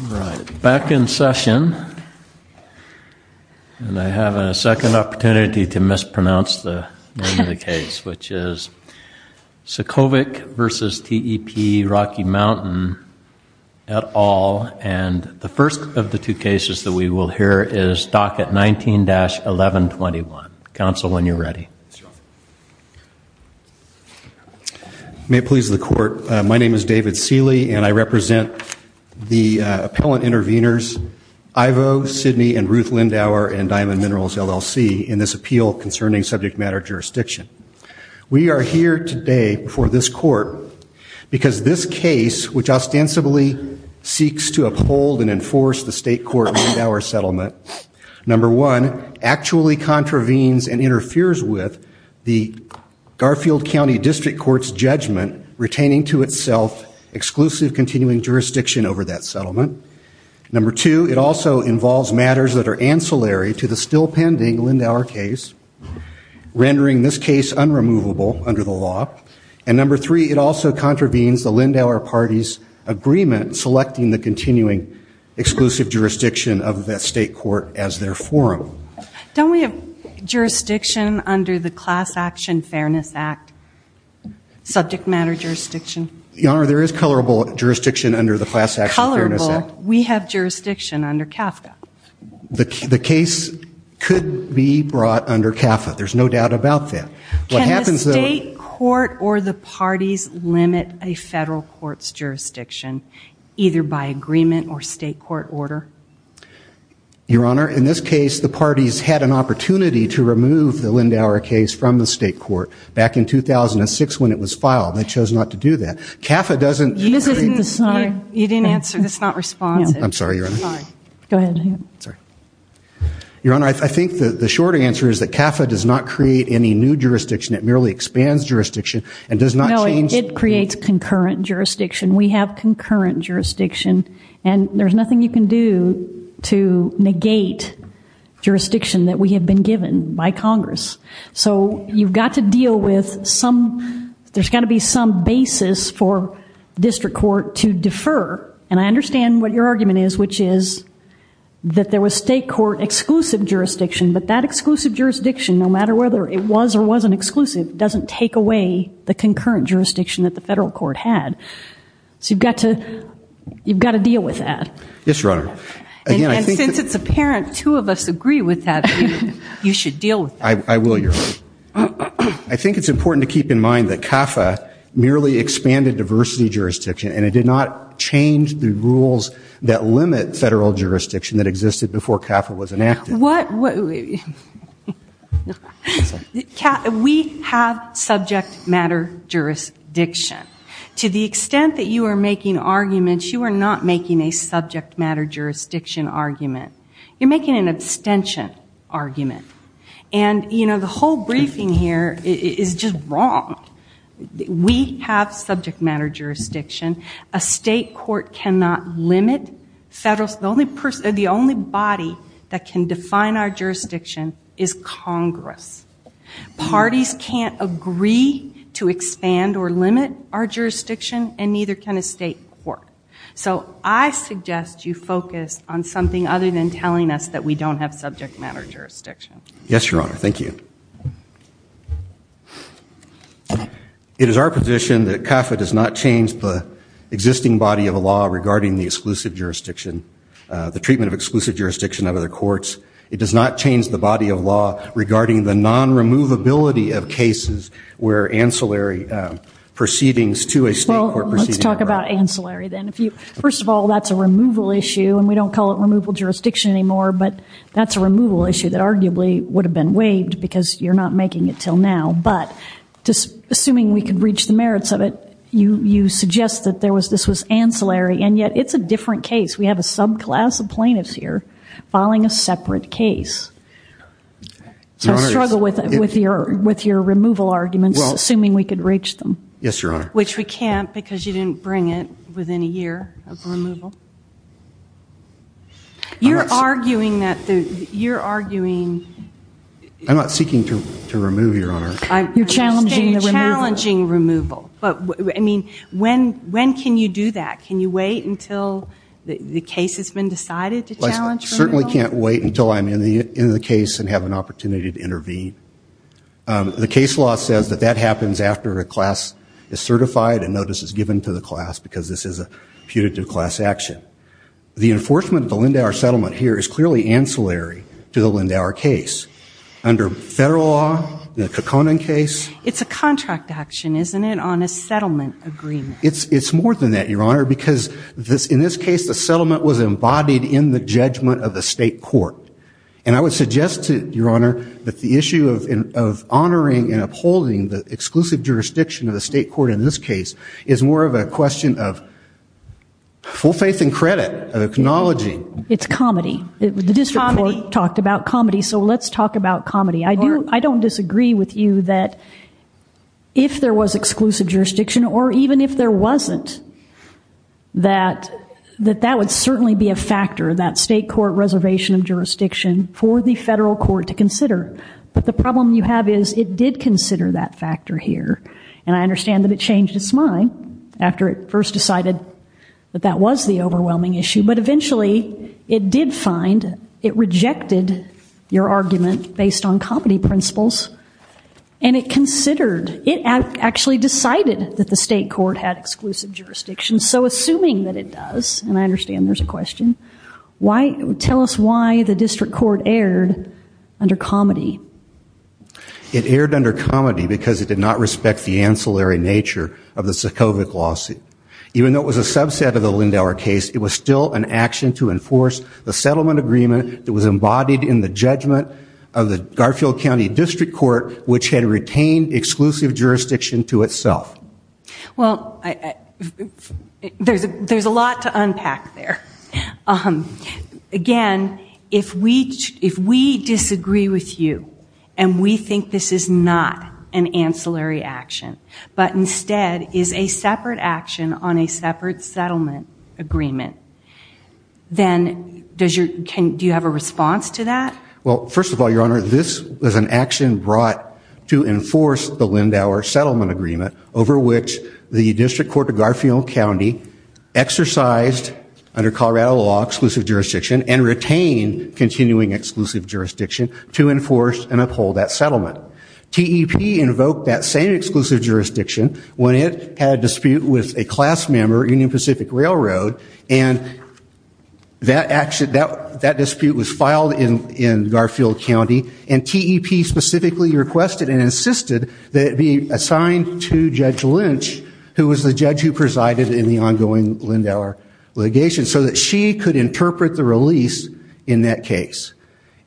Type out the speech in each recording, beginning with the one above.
All right, back in session. And I have a second opportunity to mispronounce the name of the case, which is Sefcovic v. TEP Rocky Mountain et al. And the first of the two cases that we will hear is docket 19-1121. Counsel, when you're ready. May it please the court, my name is David Seeley and I represent the appellant intervenors Ivo, Sidney and Ruth Lindauer and Diamond Minerals LLC in this appeal concerning subject matter jurisdiction. We are here today before this court because this case, which ostensibly seeks to uphold and enforce the state court Lindauer settlement, number one, actually contravenes and interferes with the Garfield County District Court's judgment retaining to itself exclusive continuing jurisdiction over that settlement. Number two, it also involves matters that are ancillary to the still pending Lindauer case, rendering this case unremovable under the law. And number three, it also contravenes the Lindauer party's agreement selecting the continuing exclusive jurisdiction of the state court as their forum. Don't we have jurisdiction under the Class Action Fairness Act? Subject matter jurisdiction? Your Honor, there is colorable jurisdiction under the Class Action Fairness Act. Colorable? We have jurisdiction under CAFCA. The case could be brought under CAFCA, there's no doubt about that. What happens though- Can the state court or the parties limit a federal court's jurisdiction, either by agreement or state court order? Your Honor, in this case, the parties had an opportunity to remove the Lindauer case from the state court back in 2006 when it was filed. They chose not to do that. CAFCA doesn't- You didn't answer, that's not responsive. I'm sorry, Your Honor. Go ahead. Your Honor, I think the shorter answer is that CAFCA does not create any new jurisdiction, it merely expands jurisdiction and does not change- No, it creates concurrent jurisdiction. We have concurrent jurisdiction and there's nothing you can do to negate jurisdiction that we have been given by Congress. You've got to deal with some- There's got to be some basis for district court to defer. I understand what your argument is, which is that there was state court exclusive jurisdiction, but that exclusive jurisdiction, no matter whether it was or wasn't exclusive, doesn't take away the concurrent jurisdiction that the federal court had. So you've got to deal with that. Yes, Your Honor. And since it's apparent, two of us agree with that, you should deal with that. I will, Your Honor. I think it's important to keep in mind that CAFCA merely expanded diversity jurisdiction and it did not change the rules that limit federal jurisdiction that existed before CAFCA was enacted. What- We have subject matter jurisdiction. To the extent that you are making arguments, you are not making a subject matter jurisdiction argument. You're making an abstention argument. And the whole briefing here is just wrong. We have subject matter jurisdiction. A state is Congress. Parties can't agree to expand or limit our jurisdiction and neither can a state court. So I suggest you focus on something other than telling us that we don't have subject matter jurisdiction. Yes, Your Honor. Thank you. It is our position that CAFCA does not change the existing body of law regarding the exclusive jurisdiction, the treatment of exclusive jurisdiction of other courts. It does not change the body of law regarding the non-removability of cases where ancillary proceedings to a state court proceeding- Well, let's talk about ancillary then. First of all, that's a removal issue and we don't call it removal jurisdiction anymore, but that's a removal issue that arguably would have been waived because you're not making it until now. But assuming we can reach the merits of it, you suggest that this was ancillary and yet it's a different case. We have a subclass of plaintiffs here filing a separate case. I struggle with your removal arguments assuming we could reach them. Yes, Your Honor. Which we can't because you didn't bring it within a year of removal. You're arguing that- I'm not seeking to remove, Your Honor. You're challenging the removal. You're challenging removal. When can you do that? Can you wait until the case has been decided to challenge removal? Well, I certainly can't wait until I'm in the case and have an opportunity to intervene. The case law says that that happens after a class is certified and notice is given to the class because this is a putative class action. The enforcement of the Lindauer settlement here is clearly ancillary to the Lindauer case. Under federal law, the Kekonen case- It's a contract action, isn't it, on a settlement agreement? It's more than that, Your Honor, because in this case, the settlement was embodied in the judgment of the state court. And I would suggest to you, Your Honor, that the issue of honoring and upholding the exclusive jurisdiction of the state court in this case is more of a question of full faith and credit, of acknowledging- It's comedy. The district court talked about comedy, so let's talk about comedy. I don't disagree with you that if there was exclusive jurisdiction or even if there wasn't, that that would certainly be a factor, that state court reservation of jurisdiction for the federal court to consider. But the problem you have is it did consider that factor here. And I understand that it changed its mind after it first decided that that was the overwhelming issue. But eventually, it did find, it rejected your argument based on comedy principles, and it considered- It actually decided that the state court had exclusive jurisdiction. So assuming that it does, and I understand there's a question, why- Tell us why the district court erred under comedy. It erred under comedy because it did not respect the ancillary nature of the Sokovich lawsuit. Even though it was a subset of the Lindauer case, it was still an action to enforce the settlement agreement that was embodied in the judgment of the Garfield County District Court, which had retained exclusive jurisdiction to itself. Well, there's a lot to unpack there. Again, if we disagree with you, and we think this is not an ancillary action, but instead is a separate action on a separate settlement agreement, then does your- Do you have a response to that? Well, first of all, Your Honor, this was an action brought to enforce the Lindauer settlement agreement over which the District Court of Garfield County exercised, under Colorado law, exclusive jurisdiction and retained continuing exclusive jurisdiction to enforce and uphold that settlement. TEP invoked that same exclusive jurisdiction when it had a dispute with a class member, Union Pacific Railroad, and that dispute was filed in Garfield County, and TEP specifically requested and insisted that it be assigned to Judge Lynch, who was the judge who presided in the ongoing Lindauer litigation, so that she could interpret the release in that case.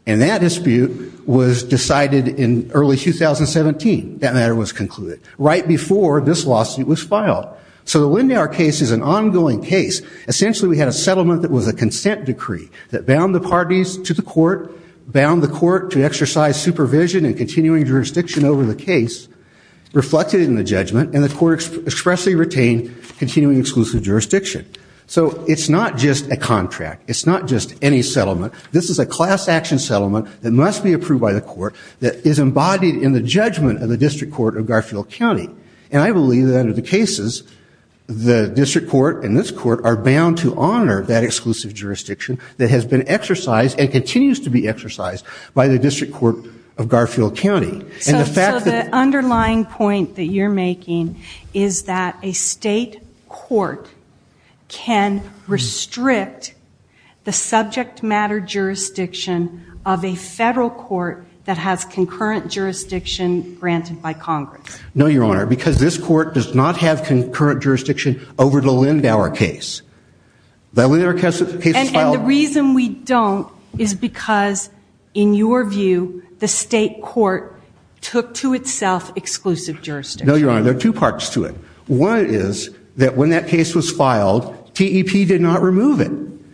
And that dispute was decided in early 2017. That matter was concluded right before this lawsuit was filed. So the Lindauer case is an ongoing case. Essentially, we had a settlement that was a consent decree that bound the parties to the court, bound the court to exercise supervision and continuing jurisdiction over the case, reflected in the judgment, and the court expressly retained continuing exclusive jurisdiction. So it's not just a contract. It's not just any settlement. This is a class action settlement that must be approved by the court, that is embodied in the judgment of the District Court of Garfield County. And I believe that under the cases, the District Court and this court are bound to honor that exclusive jurisdiction that has been exercised and continues to be exercised by the District Court of Garfield County. And the fact that... So the underlying point that you're making is that a state court can restrict the subject matter jurisdiction of a federal court that has concurrent jurisdiction granted by Congress. No, Your Honor, because this court does not have concurrent jurisdiction over the Lindauer case. The Lindauer case was filed... And the reason we don't is because, in your view, the state court took to itself exclusive jurisdiction. No, Your Honor, there are two parts to it. One is that when that case was filed, TEP did not remove it.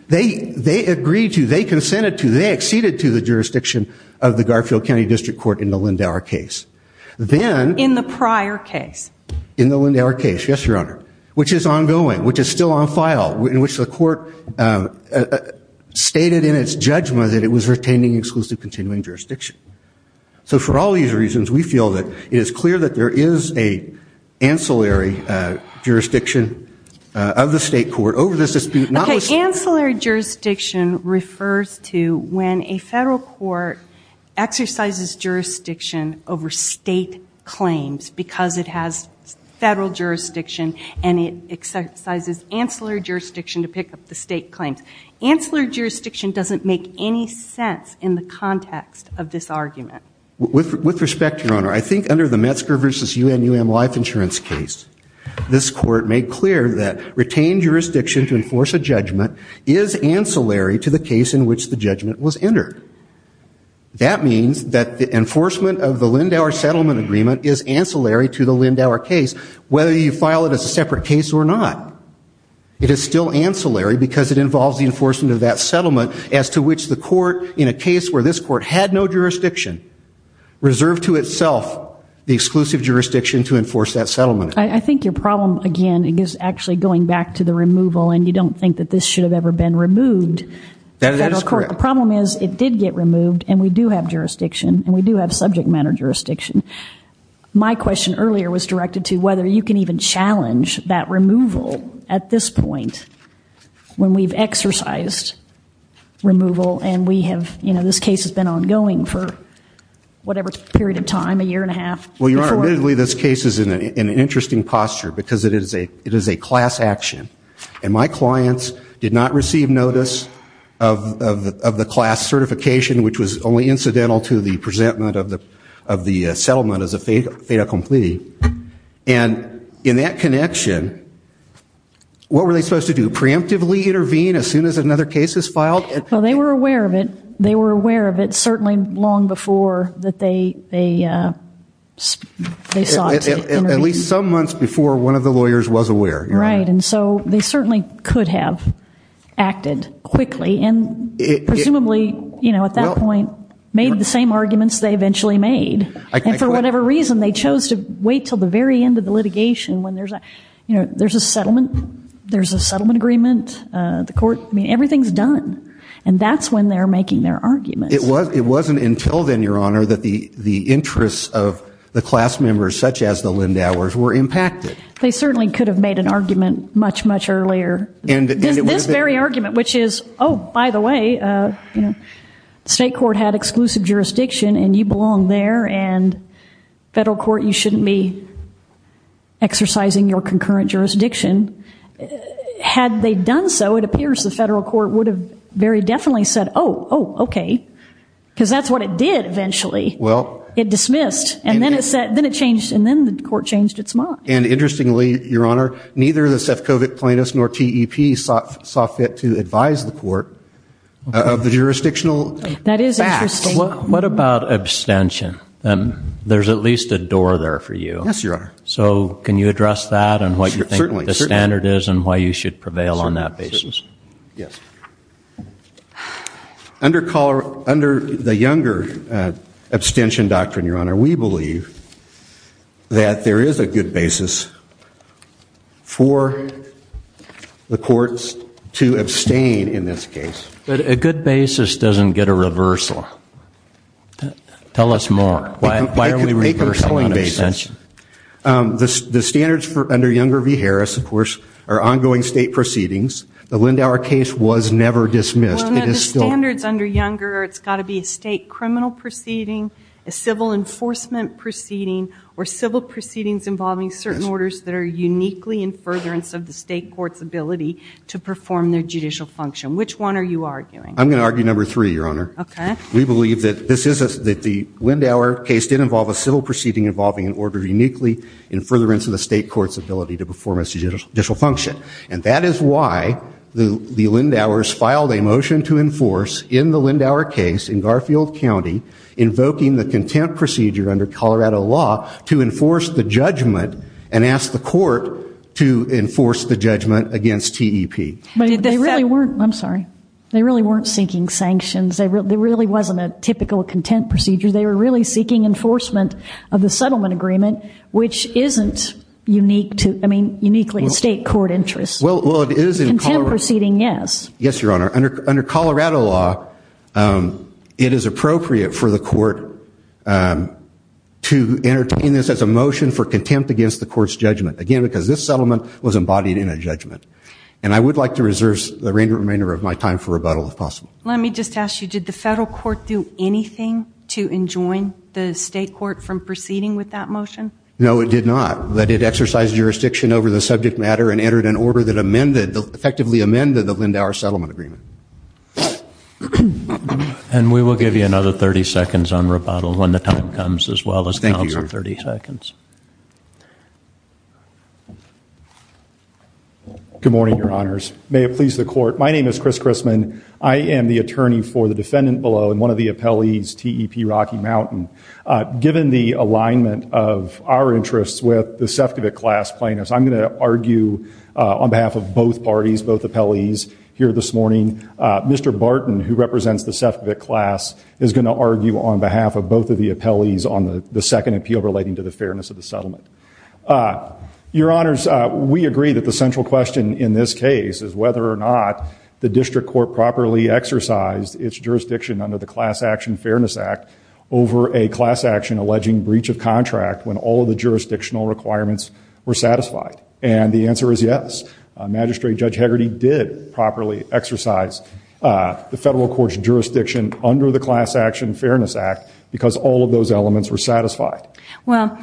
They agreed to, they consented to, they acceded to the jurisdiction of the Garfield County District Court in the Lindauer case. Then... In the prior case. In the Lindauer case, yes, Your Honor, which is ongoing, which is still on file, in which the court stated in its judgment that it was retaining exclusive continuing jurisdiction. So for all these reasons, we feel that it is clear that there is an ancillary jurisdiction of the state court over this dispute, not... Okay, ancillary jurisdiction refers to when a federal court exercises jurisdiction over state claims because it has federal jurisdiction and it exercises ancillary jurisdiction to pick up the state claims. Ancillary jurisdiction doesn't make any sense in the context of this argument. With respect, Your Honor, I think under the Metzger v. UNUM life insurance case, this is unclear that retained jurisdiction to enforce a judgment is ancillary to the case in which the judgment was entered. That means that the enforcement of the Lindauer settlement agreement is ancillary to the Lindauer case, whether you file it as a separate case or not. It is still ancillary because it involves the enforcement of that settlement as to which the court, in a case where this court had no jurisdiction, reserved to itself the exclusive jurisdiction to enforce that settlement. I think your problem, again, is actually going back to the removal, and you don't think that this should have ever been removed. That is correct. The problem is, it did get removed, and we do have jurisdiction, and we do have subject matter jurisdiction. My question earlier was directed to whether you can even challenge that removal at this point, when we've exercised removal and we have, you know, this case has been ongoing for whatever period of time, a year and a half, before... Admittedly, this case is in an interesting posture because it is a class action, and my clients did not receive notice of the class certification, which was only incidental to the presentment of the settlement as a fait accompli. And in that connection, what were they supposed to do, preemptively intervene as soon as another case is filed? Well, they were aware of it. They were aware of it certainly long before that they sought to intervene. At least some months before one of the lawyers was aware. Right, and so they certainly could have acted quickly, and presumably, you know, at that point, made the same arguments they eventually made. And for whatever reason, they chose to wait until the very end of the litigation, when there's a settlement, there's a settlement done. And that's when they're making their arguments. It wasn't until then, Your Honor, that the interests of the class members, such as the Lindauers, were impacted. They certainly could have made an argument much, much earlier. This very argument, which is, oh, by the way, you know, state court had exclusive jurisdiction, and you belong there, and federal court, you shouldn't be exercising your concurrent jurisdiction. Had they done so, it appears the federal court would have very definitely said, oh, oh, okay, because that's what it did eventually. It dismissed, and then it changed, and then the court changed its mind. And interestingly, Your Honor, neither the Sefcovic plaintiffs nor TEP saw fit to advise the court of the jurisdictional facts. What about abstention? There's at least a door there for you. Yes, Your Honor. So can you address that and what you think the standard is and why you should prevail on that basis? Yes. Under the Younger abstention doctrine, Your Honor, we believe that there is a good basis for the courts to abstain in this case. But a good basis doesn't get a reversal. Tell us more. Why are we reversing on abstention? The standards under Younger v. Harris, of course, are ongoing state proceedings. The Lindauer case was never dismissed. Well, no, the standards under Younger, it's got to be a state criminal proceeding, a civil enforcement proceeding, or civil proceedings involving certain orders that are uniquely in furtherance of the state court's ability to perform their judicial function. Which one are you arguing? I'm going to argue number three, Your Honor. Okay. We believe that this is a, that the Lindauer case did involve a civil proceeding involving an order uniquely in furtherance of the state court's ability to perform its judicial function. And that is why the Lindauers filed a motion to enforce in the Lindauer case in Garfield County invoking the content procedure under Colorado law to enforce the judgment and ask the court to enforce the judgment against TEP. But they really weren't, I'm sorry, they really weren't seeking sanctions. It really wasn't a typical content procedure. They were really seeking enforcement of the settlement agreement, which isn't unique to, I mean, uniquely in state court interests. Well, it is in Colorado. Content proceeding, yes. Yes, Your Honor. Under Colorado law, it is appropriate for the court to entertain this as a motion for contempt against the court's judgment. Again, because this settlement was embodied in a judgment. And I would like to reserve the remainder of my time for rebuttal if possible. Let me just ask you, did the federal court do anything to enjoin the state court from proceeding with that motion? No, it did not. But it exercised jurisdiction over the subject matter and entered an order that amended, effectively amended the Lindauer settlement agreement. And we will give you another 30 seconds on rebuttal when the time comes as well as counsel. Thank you, Your Honor. 30 seconds. Good morning, Your Honors. May it please the court. My name is Chris Christman. I am the attorney for the defendant below and one of the appellees, TEP Rocky Mountain. Given the alignment of our interests with the Sefcovic class plaintiffs, I'm going to argue on behalf of both parties, both appellees here this morning. Mr. Barton, who represents the Sefcovic class, is going to argue on behalf of both of the appellees on the second appeal relating to the fairness of the settlement. Your Honors, we agree that the central question in this case is whether or not the district court properly exercised its jurisdiction under the Class Action Fairness Act over a class action alleging breach of contract when all of the jurisdictional requirements were satisfied. And the answer is yes. Magistrate Judge Hegarty did properly exercise the federal court's jurisdiction under the Class Action Fairness Act because all of those elements were satisfied. Well,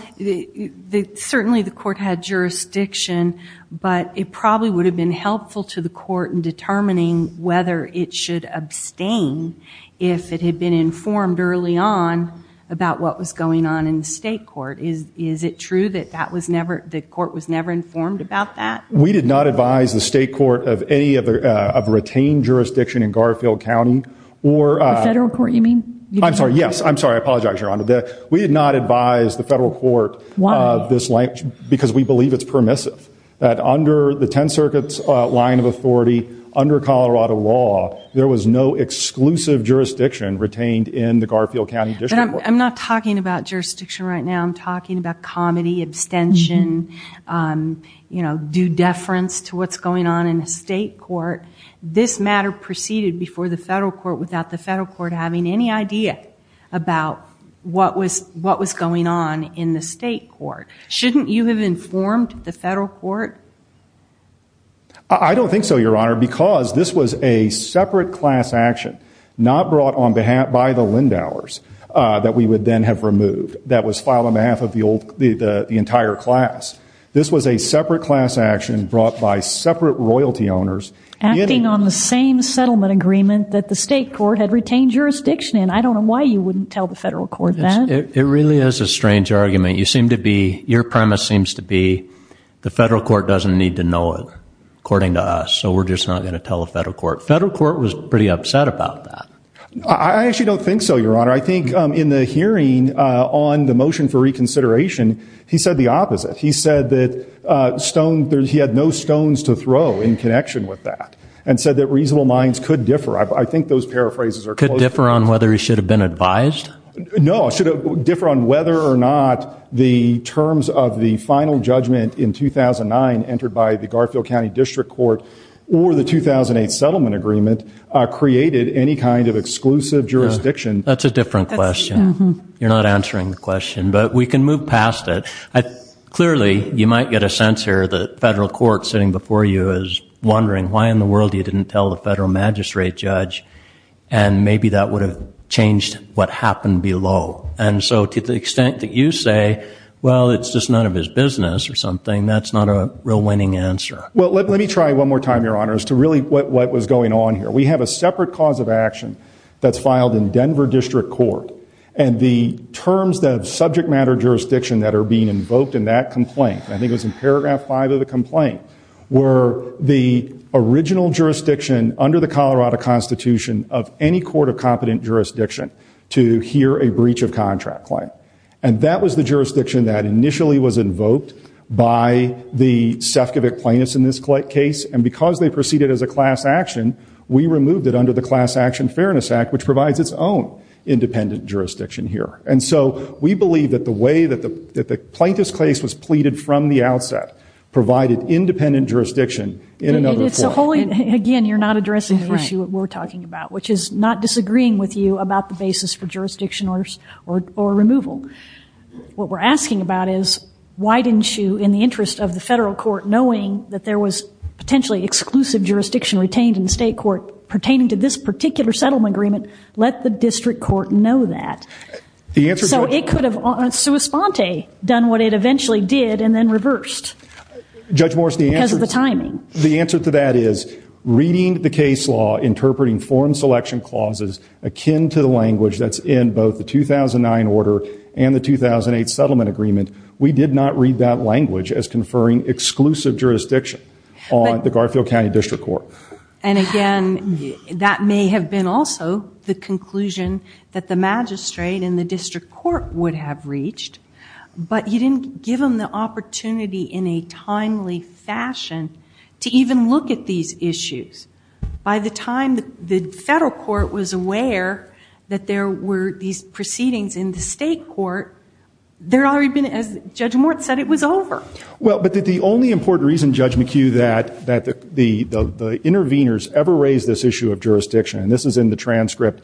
certainly the court had jurisdiction, but it probably would have been helpful to the court in determining whether it should abstain if it had been informed early on about what was going on in the state court. Is it true that the court was never informed about that? We did not advise the state court of any of the retained jurisdiction in Garfield County. The federal court, you mean? I'm sorry, yes. I'm sorry. I apologize, Your Honor. We did not advise the federal court of this language because we believe it's permissive. That under the Ten Circuit's line of authority, under Colorado law, there was no exclusive jurisdiction retained in the Garfield County district court. I'm not talking about jurisdiction right now. I'm talking about comedy, abstention, due deference to what's going on in the state court. This matter proceeded before the federal court having any idea about what was going on in the state court. Shouldn't you have informed the federal court? I don't think so, Your Honor, because this was a separate class action, not brought on behalf by the Lindauers that we would then have removed, that was filed on behalf of the entire class. This was a separate class action brought by separate royalty owners. Acting on the same settlement agreement that the state court had retained jurisdiction in. I don't know why you wouldn't tell the federal court that. It really is a strange argument. Your premise seems to be the federal court doesn't need to know it, according to us, so we're just not going to tell the federal court. The federal court was pretty upset about that. I actually don't think so, Your Honor. I think in the hearing on the motion for reconsideration, he said the opposite. He said that he had no stones to throw in connection with that and said that reasonable minds could differ. I think those paraphrases are close. Could differ on whether he should have been advised? No. It should differ on whether or not the terms of the final judgment in 2009 entered by the Garfield County District Court or the 2008 settlement agreement created any kind of exclusive jurisdiction. That's a different question. You're not answering the question, but we can move past it. Clearly, you might get a sense here that the federal court sitting before you is wondering why in the world you didn't tell the federal magistrate judge and maybe that would have changed what happened below. To the extent that you say, well, it's just none of his business or something, that's not a real winning answer. Let me try one more time, Your Honor, as to really what was going on here. We have a separate cause of action that's filed in Denver District Court and the terms of subject matter jurisdiction that are being invoked in that complaint, I think it was in paragraph five of the complaint, were the original jurisdiction under the Colorado Constitution of any court of competent jurisdiction to hear a breach of contract claim. That was the jurisdiction that initially was invoked by the Sefcovic plaintiffs in this case and because they proceeded as a class action, we removed it under the Class Action Fairness Act, which provides its own independent jurisdiction here. And so we believe that the way that the plaintiff's case was pleaded from the outset provided independent jurisdiction in another court. Again, you're not addressing the issue that we're talking about, which is not disagreeing with you about the basis for jurisdiction or removal. What we're asking about is why didn't you, in the interest of the federal court knowing that there was potentially exclusive jurisdiction retained in the state court pertaining to this particular settlement agreement, let the district court know that? So it could have on sua sponte done what it eventually did and then reversed because of the timing. The answer to that is reading the case law, interpreting form selection clauses akin to the language that's in both the 2009 order and the 2008 settlement agreement, we did not read that language as conferring exclusive jurisdiction on the Garfield County District Court. And again, that may have been also the conclusion that the magistrate in the district court would have reached, but you didn't give them the opportunity in a timely fashion to even look at these issues. By the time the federal court was aware that there were these proceedings in the state court, there had already been, as Judge Morton said, it was over. But the only important reason, Judge McHugh, that the interveners ever raised this issue of jurisdiction, and this is in the transcript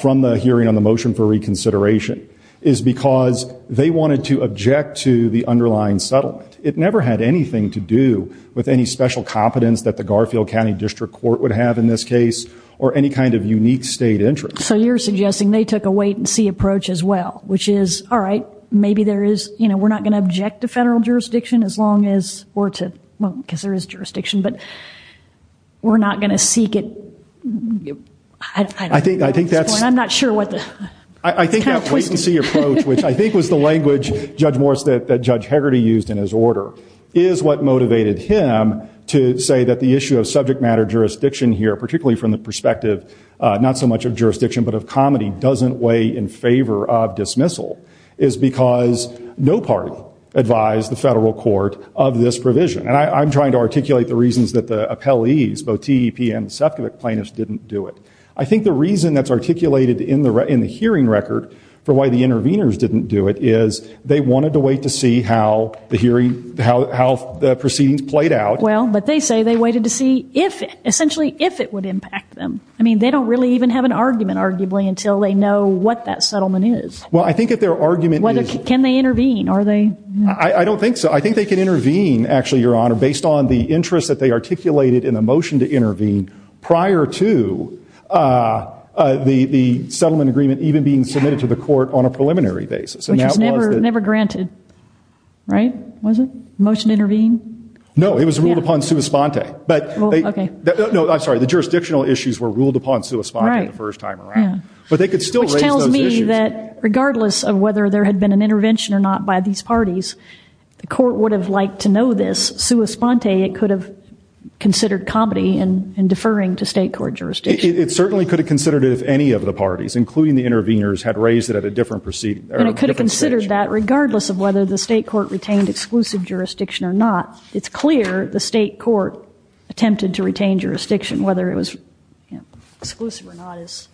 from the hearing on the motion for reconsideration, is because they wanted to object to the underlying settlement. It never had anything to do with any special competence that the Garfield County District Court would have in this case or any kind of unique state interest. So you're suggesting they took a wait and see approach as well, which is, all right, maybe there is, we're not going to object to federal jurisdiction as long as, or to, well, because there is jurisdiction, but we're not going to seek it at this point. I'm not sure what the, it's kind of twisted. I think that wait and see approach, which I think was the language, Judge Morris, that Judge Hegarty used in his order, is what motivated him to say that the issue of subject matter jurisdiction here, particularly from the perspective, not so much of jurisdiction, but of comity, doesn't weigh in favor of dismissal, is because no party advised the federal court of this provision. And I'm trying to articulate the reasons that the appellees, both TEP and the Sefcovic plaintiffs, didn't do it. I think the reason that's articulated in the hearing record for why the interveners didn't do it is they wanted to wait to see how the hearing, how the proceedings played out. Well, but they say they waited to see if, essentially, if it would impact them. I mean, they don't really even have an argument, arguably, until they know what that settlement is. Well, I think if their argument is... Can they intervene? Are they... I don't think so. I think they can intervene, actually, Your Honor, based on the interest that they articulated in the motion to intervene prior to the settlement agreement even being submitted to the court on a preliminary basis. Which was never granted, right? Was it? Motion to intervene? No, it was ruled upon sua sponte. Well, okay. No, I'm sorry. The jurisdictional issues were ruled upon sua sponte the first time around. Right, yeah. But they could still raise those issues. Which tells me that, regardless of whether there had been an intervention or not by these parties, the court would have liked to know this. Sua sponte, it could have considered comedy in deferring to state court jurisdiction. It certainly could have considered it if any of the parties, including the interveners, had raised it at a different stage. And it could have considered that regardless of whether the state court retained exclusive jurisdiction or not, it's clear the state court attempted to retain jurisdiction, whether it was exclusive or not is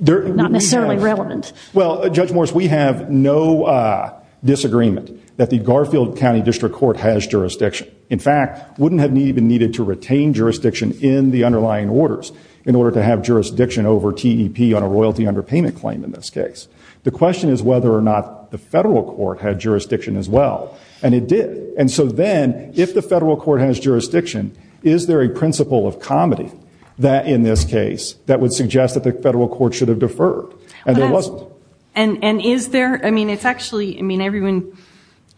not necessarily relevant. Well, Judge Morris, we have no disagreement that the Garfield County District Court has jurisdiction. In fact, wouldn't have even needed to retain jurisdiction in the underlying orders in order to have jurisdiction over TEP on a royalty underpayment claim in this case. The question is whether or not the federal court had jurisdiction as well. And it did. And so then, if the federal court has jurisdiction, is there a principle of comedy in this case that would suggest that the federal court should have deferred? And there wasn't. And is there, I mean, it's actually, I mean, everyone,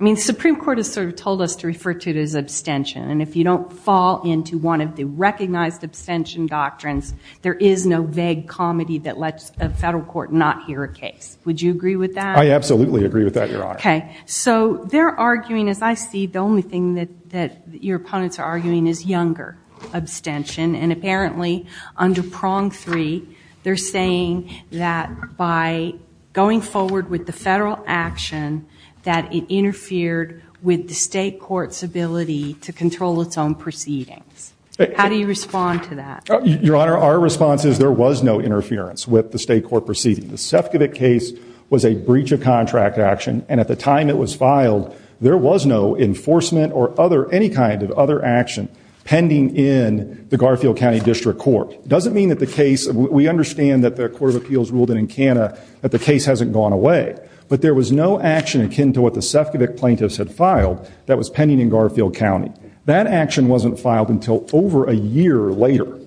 I mean, the Supreme Court has sort of told us to refer to it as abstention. And if you don't fall into one of the recognized abstention doctrines, there is no vague comedy that lets a federal court not hear a case. Would you agree with that? I absolutely agree with that, Your Honor. Okay. So they're arguing, as I see, the only thing that your opponents are arguing is younger abstention. And apparently, under prong three, they're saying that by going forward with the federal action, that it interfered with the state court's ability to control its own proceedings. How do you respond to that? Your Honor, our response is there was no interference with the state court proceeding. The Sefcovic case was a breach of contract action. And at the time it was filed, there was no enforcement or other, any kind of other action pending in the Garfield County District Court. Doesn't mean that the case, we understand that the Court of Appeals ruled in Encana that the case hasn't gone away. But there was no action akin to what the Sefcovic plaintiffs had filed that was pending in Garfield County. That action wasn't filed until over a year later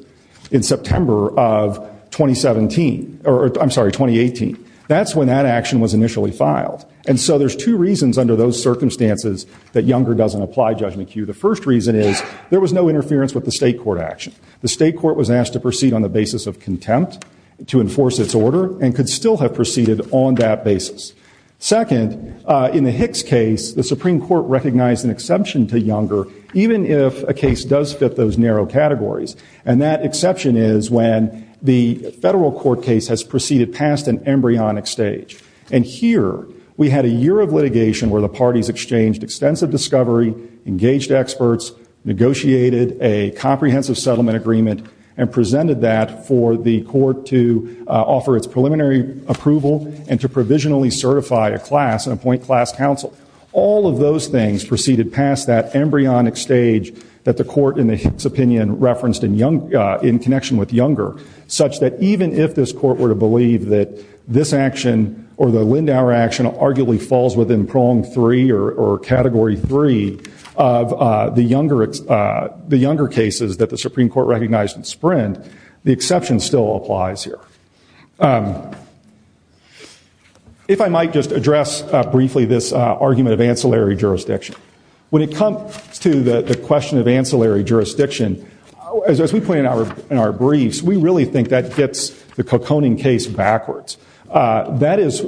in September of 2017 or I'm sorry, 2018. That's when that action was initially filed. And so there's two reasons under those circumstances that younger doesn't apply judgment queue. The first reason is there was no interference with the state court action. The state court was asked to proceed on the basis of contempt to enforce its order and could still have The Supreme Court recognized an exception to younger, even if a case does fit those narrow categories. And that exception is when the federal court case has proceeded past an embryonic stage. And here we had a year of litigation where the parties exchanged extensive discovery, engaged experts, negotiated a comprehensive settlement agreement and presented that for the court to offer its preliminary approval and to provisionally certify a class and appoint class counsel. All of those things proceeded past that embryonic stage that the court in its opinion referenced in connection with younger, such that even if this court were to believe that this action or the Lindauer action arguably falls within prong three or category three of the younger cases that the Supreme Court recognized in Sprint, the exception still applies here. If I might just address briefly this argument of ancillary jurisdiction. When it comes to the question of ancillary jurisdiction, as we point out in our briefs, we really think that gets the Kokoning case backwards. That is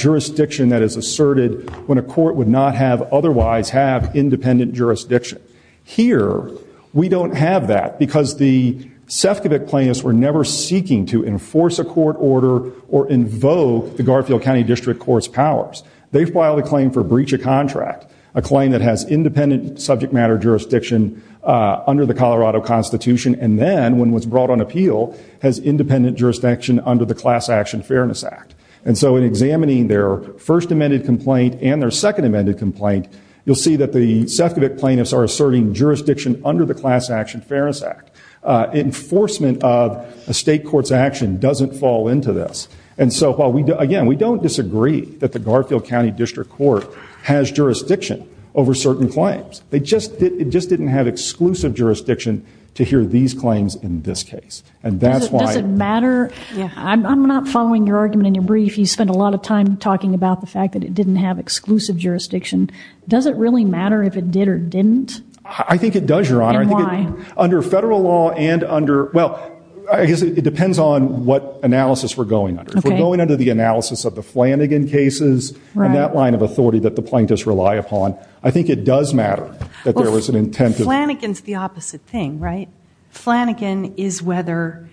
jurisdiction that is asserted when a court would not have otherwise have independent jurisdiction. Here, we don't have that because the Sefcovic plaintiffs were never seeking to enforce a court order or invoke the Garfield County District Court's powers. They filed a claim for breach of contract, a claim that has independent subject matter jurisdiction under the Colorado Constitution and then when was brought on appeal, has independent jurisdiction under the Class Action Fairness Act. And so in examining their first amended complaint and their second amended complaint, you'll see that the Sefcovic plaintiffs are asserting jurisdiction under the Class Action Fairness Act. Enforcement of a state court's action doesn't fall into this. And so again, we don't disagree that the Garfield County District Court has jurisdiction over certain claims. It just didn't have exclusive jurisdiction to hear these claims in this case. Does it matter? I'm not following your argument in your brief. You spent a lot of time talking about the fact that it didn't have exclusive jurisdiction. Does it really matter if it did or didn't? I think it does, Your Honor. And why? Under federal law and under, well, I guess it depends on what analysis we're going under. If we're going under the analysis of the Flanagan cases and that line of authority that the plaintiffs rely upon, I think it does matter that there was an intent to. Flanagan's the opposite thing, right? Flanagan is whether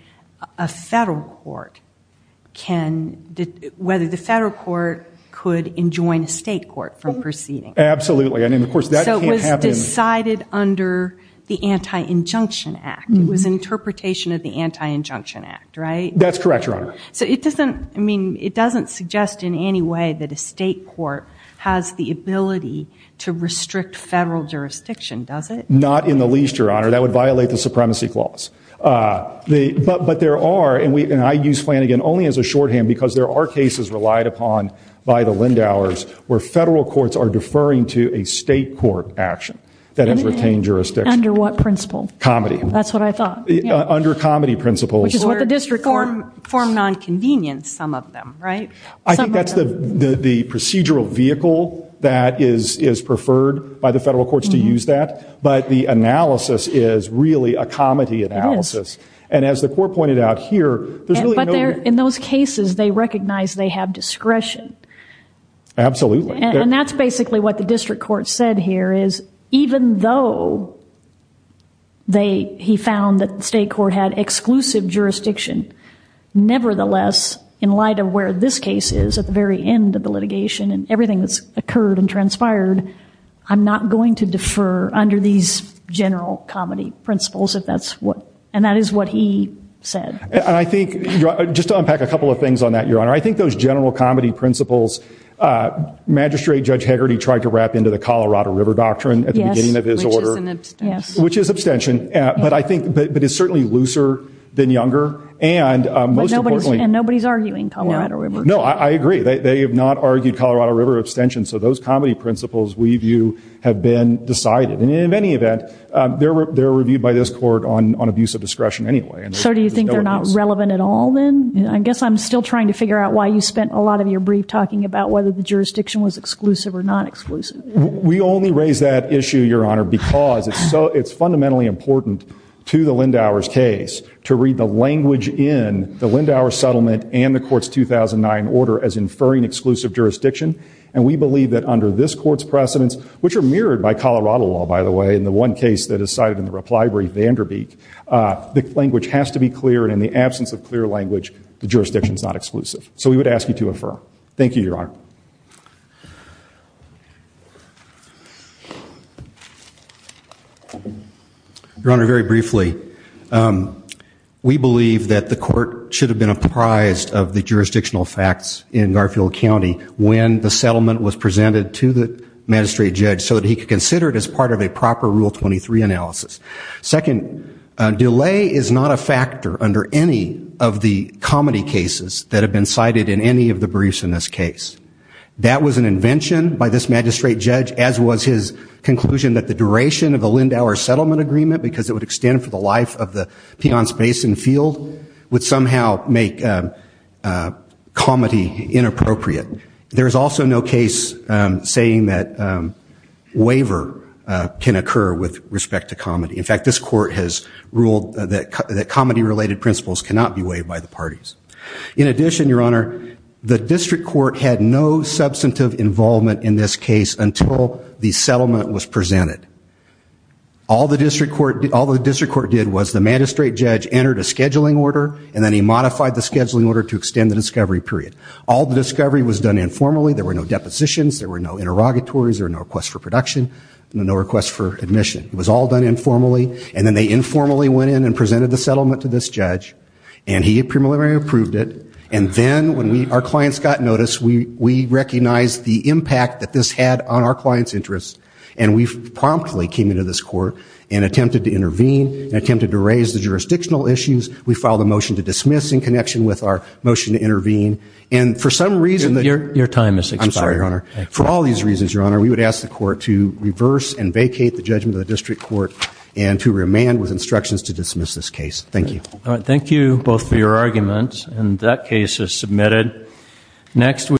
a federal court can, whether the state could enjoin a state court from proceeding. Absolutely. I mean, of course that can't happen. So it was decided under the Anti-Injunction Act. It was an interpretation of the Anti-Injunction Act, right? That's correct, Your Honor. So it doesn't, I mean, it doesn't suggest in any way that a state court has the ability to restrict federal jurisdiction, does it? Not in the least, Your Honor. That would violate the Supremacy Clause. But there are, and I use Flanagan only as a shorthand because there are cases relied upon by the Lindauers where federal courts are deferring to a state court action that has retained jurisdiction. Under what principle? Comedy. That's what I thought. Under comedy principles. Which is what the district court. Formed on convenience, some of them, right? I think that's the procedural vehicle that is preferred by the federal courts to use that. But the analysis is really a comedy analysis. It is. As the court pointed out here, there's really no... In those cases, they recognize they have discretion. Absolutely. And that's basically what the district court said here is even though they, he found that the state court had exclusive jurisdiction, nevertheless, in light of where this case is at the very end of the litigation and everything that's occurred and transpired, I'm not going to defer under these general comedy principles if that's what, and that is what he said. And I think, just to unpack a couple of things on that, Your Honor, I think those general comedy principles, Magistrate Judge Hegarty tried to wrap into the Colorado River Doctrine at the beginning of his order. Yes. Which is an abstention. Yes. Which is abstention. But I think, but it's certainly looser than younger. And most importantly... And nobody's arguing Colorado River Doctrine. No, I agree. They have not argued Colorado River abstention. So those comedy principles, we view, have been decided. And in any event, they're reviewed by this court on abuse of discretion anyway. So do you think they're not relevant at all then? I guess I'm still trying to figure out why you spent a lot of your brief talking about whether the jurisdiction was exclusive or non-exclusive. We only raise that issue, Your Honor, because it's fundamentally important to the Lindauer's case to read the language in the Lindauer settlement and the court's 2009 order as inferring exclusive jurisdiction. And we believe that under this court's precedents, which are mirrored by Colorado law, by the way, in the one case that is cited in the reply brief, Vanderbeek, the language has to be clear. And in the absence of clear language, the jurisdiction's not exclusive. So we would ask you to infer. Thank you, Your Honor. Your Honor, very briefly, we believe that the court should have been apprised of the county when the settlement was presented to the magistrate judge so that he could consider it as part of a proper Rule 23 analysis. Second, delay is not a factor under any of the comedy cases that have been cited in any of the briefs in this case. That was an invention by this magistrate judge, as was his conclusion that the duration of the Lindauer settlement agreement, because it would extend for the Peons Basin field, would somehow make comedy inappropriate. There is also no case saying that waiver can occur with respect to comedy. In fact, this court has ruled that comedy-related principles cannot be waived by the parties. In addition, Your Honor, the district court had no substantive involvement in this case until the settlement was presented. All the district court did was the magistrate judge entered a scheduling order, and then he modified the scheduling order to extend the discovery period. All the discovery was done informally. There were no depositions. There were no interrogatories. There were no requests for production and no requests for admission. It was all done informally. And then they informally went in and presented the settlement to this judge, and he primarily approved it. And then when our clients got notice, we recognized the client's interest, and we promptly came into this court and attempted to intervene and attempted to raise the jurisdictional issues. We filed a motion to dismiss in connection with our motion to intervene. And for some reason, Your time has expired. I'm sorry, Your Honor. For all these reasons, Your Honor, we would ask the court to reverse and vacate the judgment of the district court and to remand with instructions to dismiss this case. Thank you. All right. Thank you both for your arguments, and that case is submitted. Next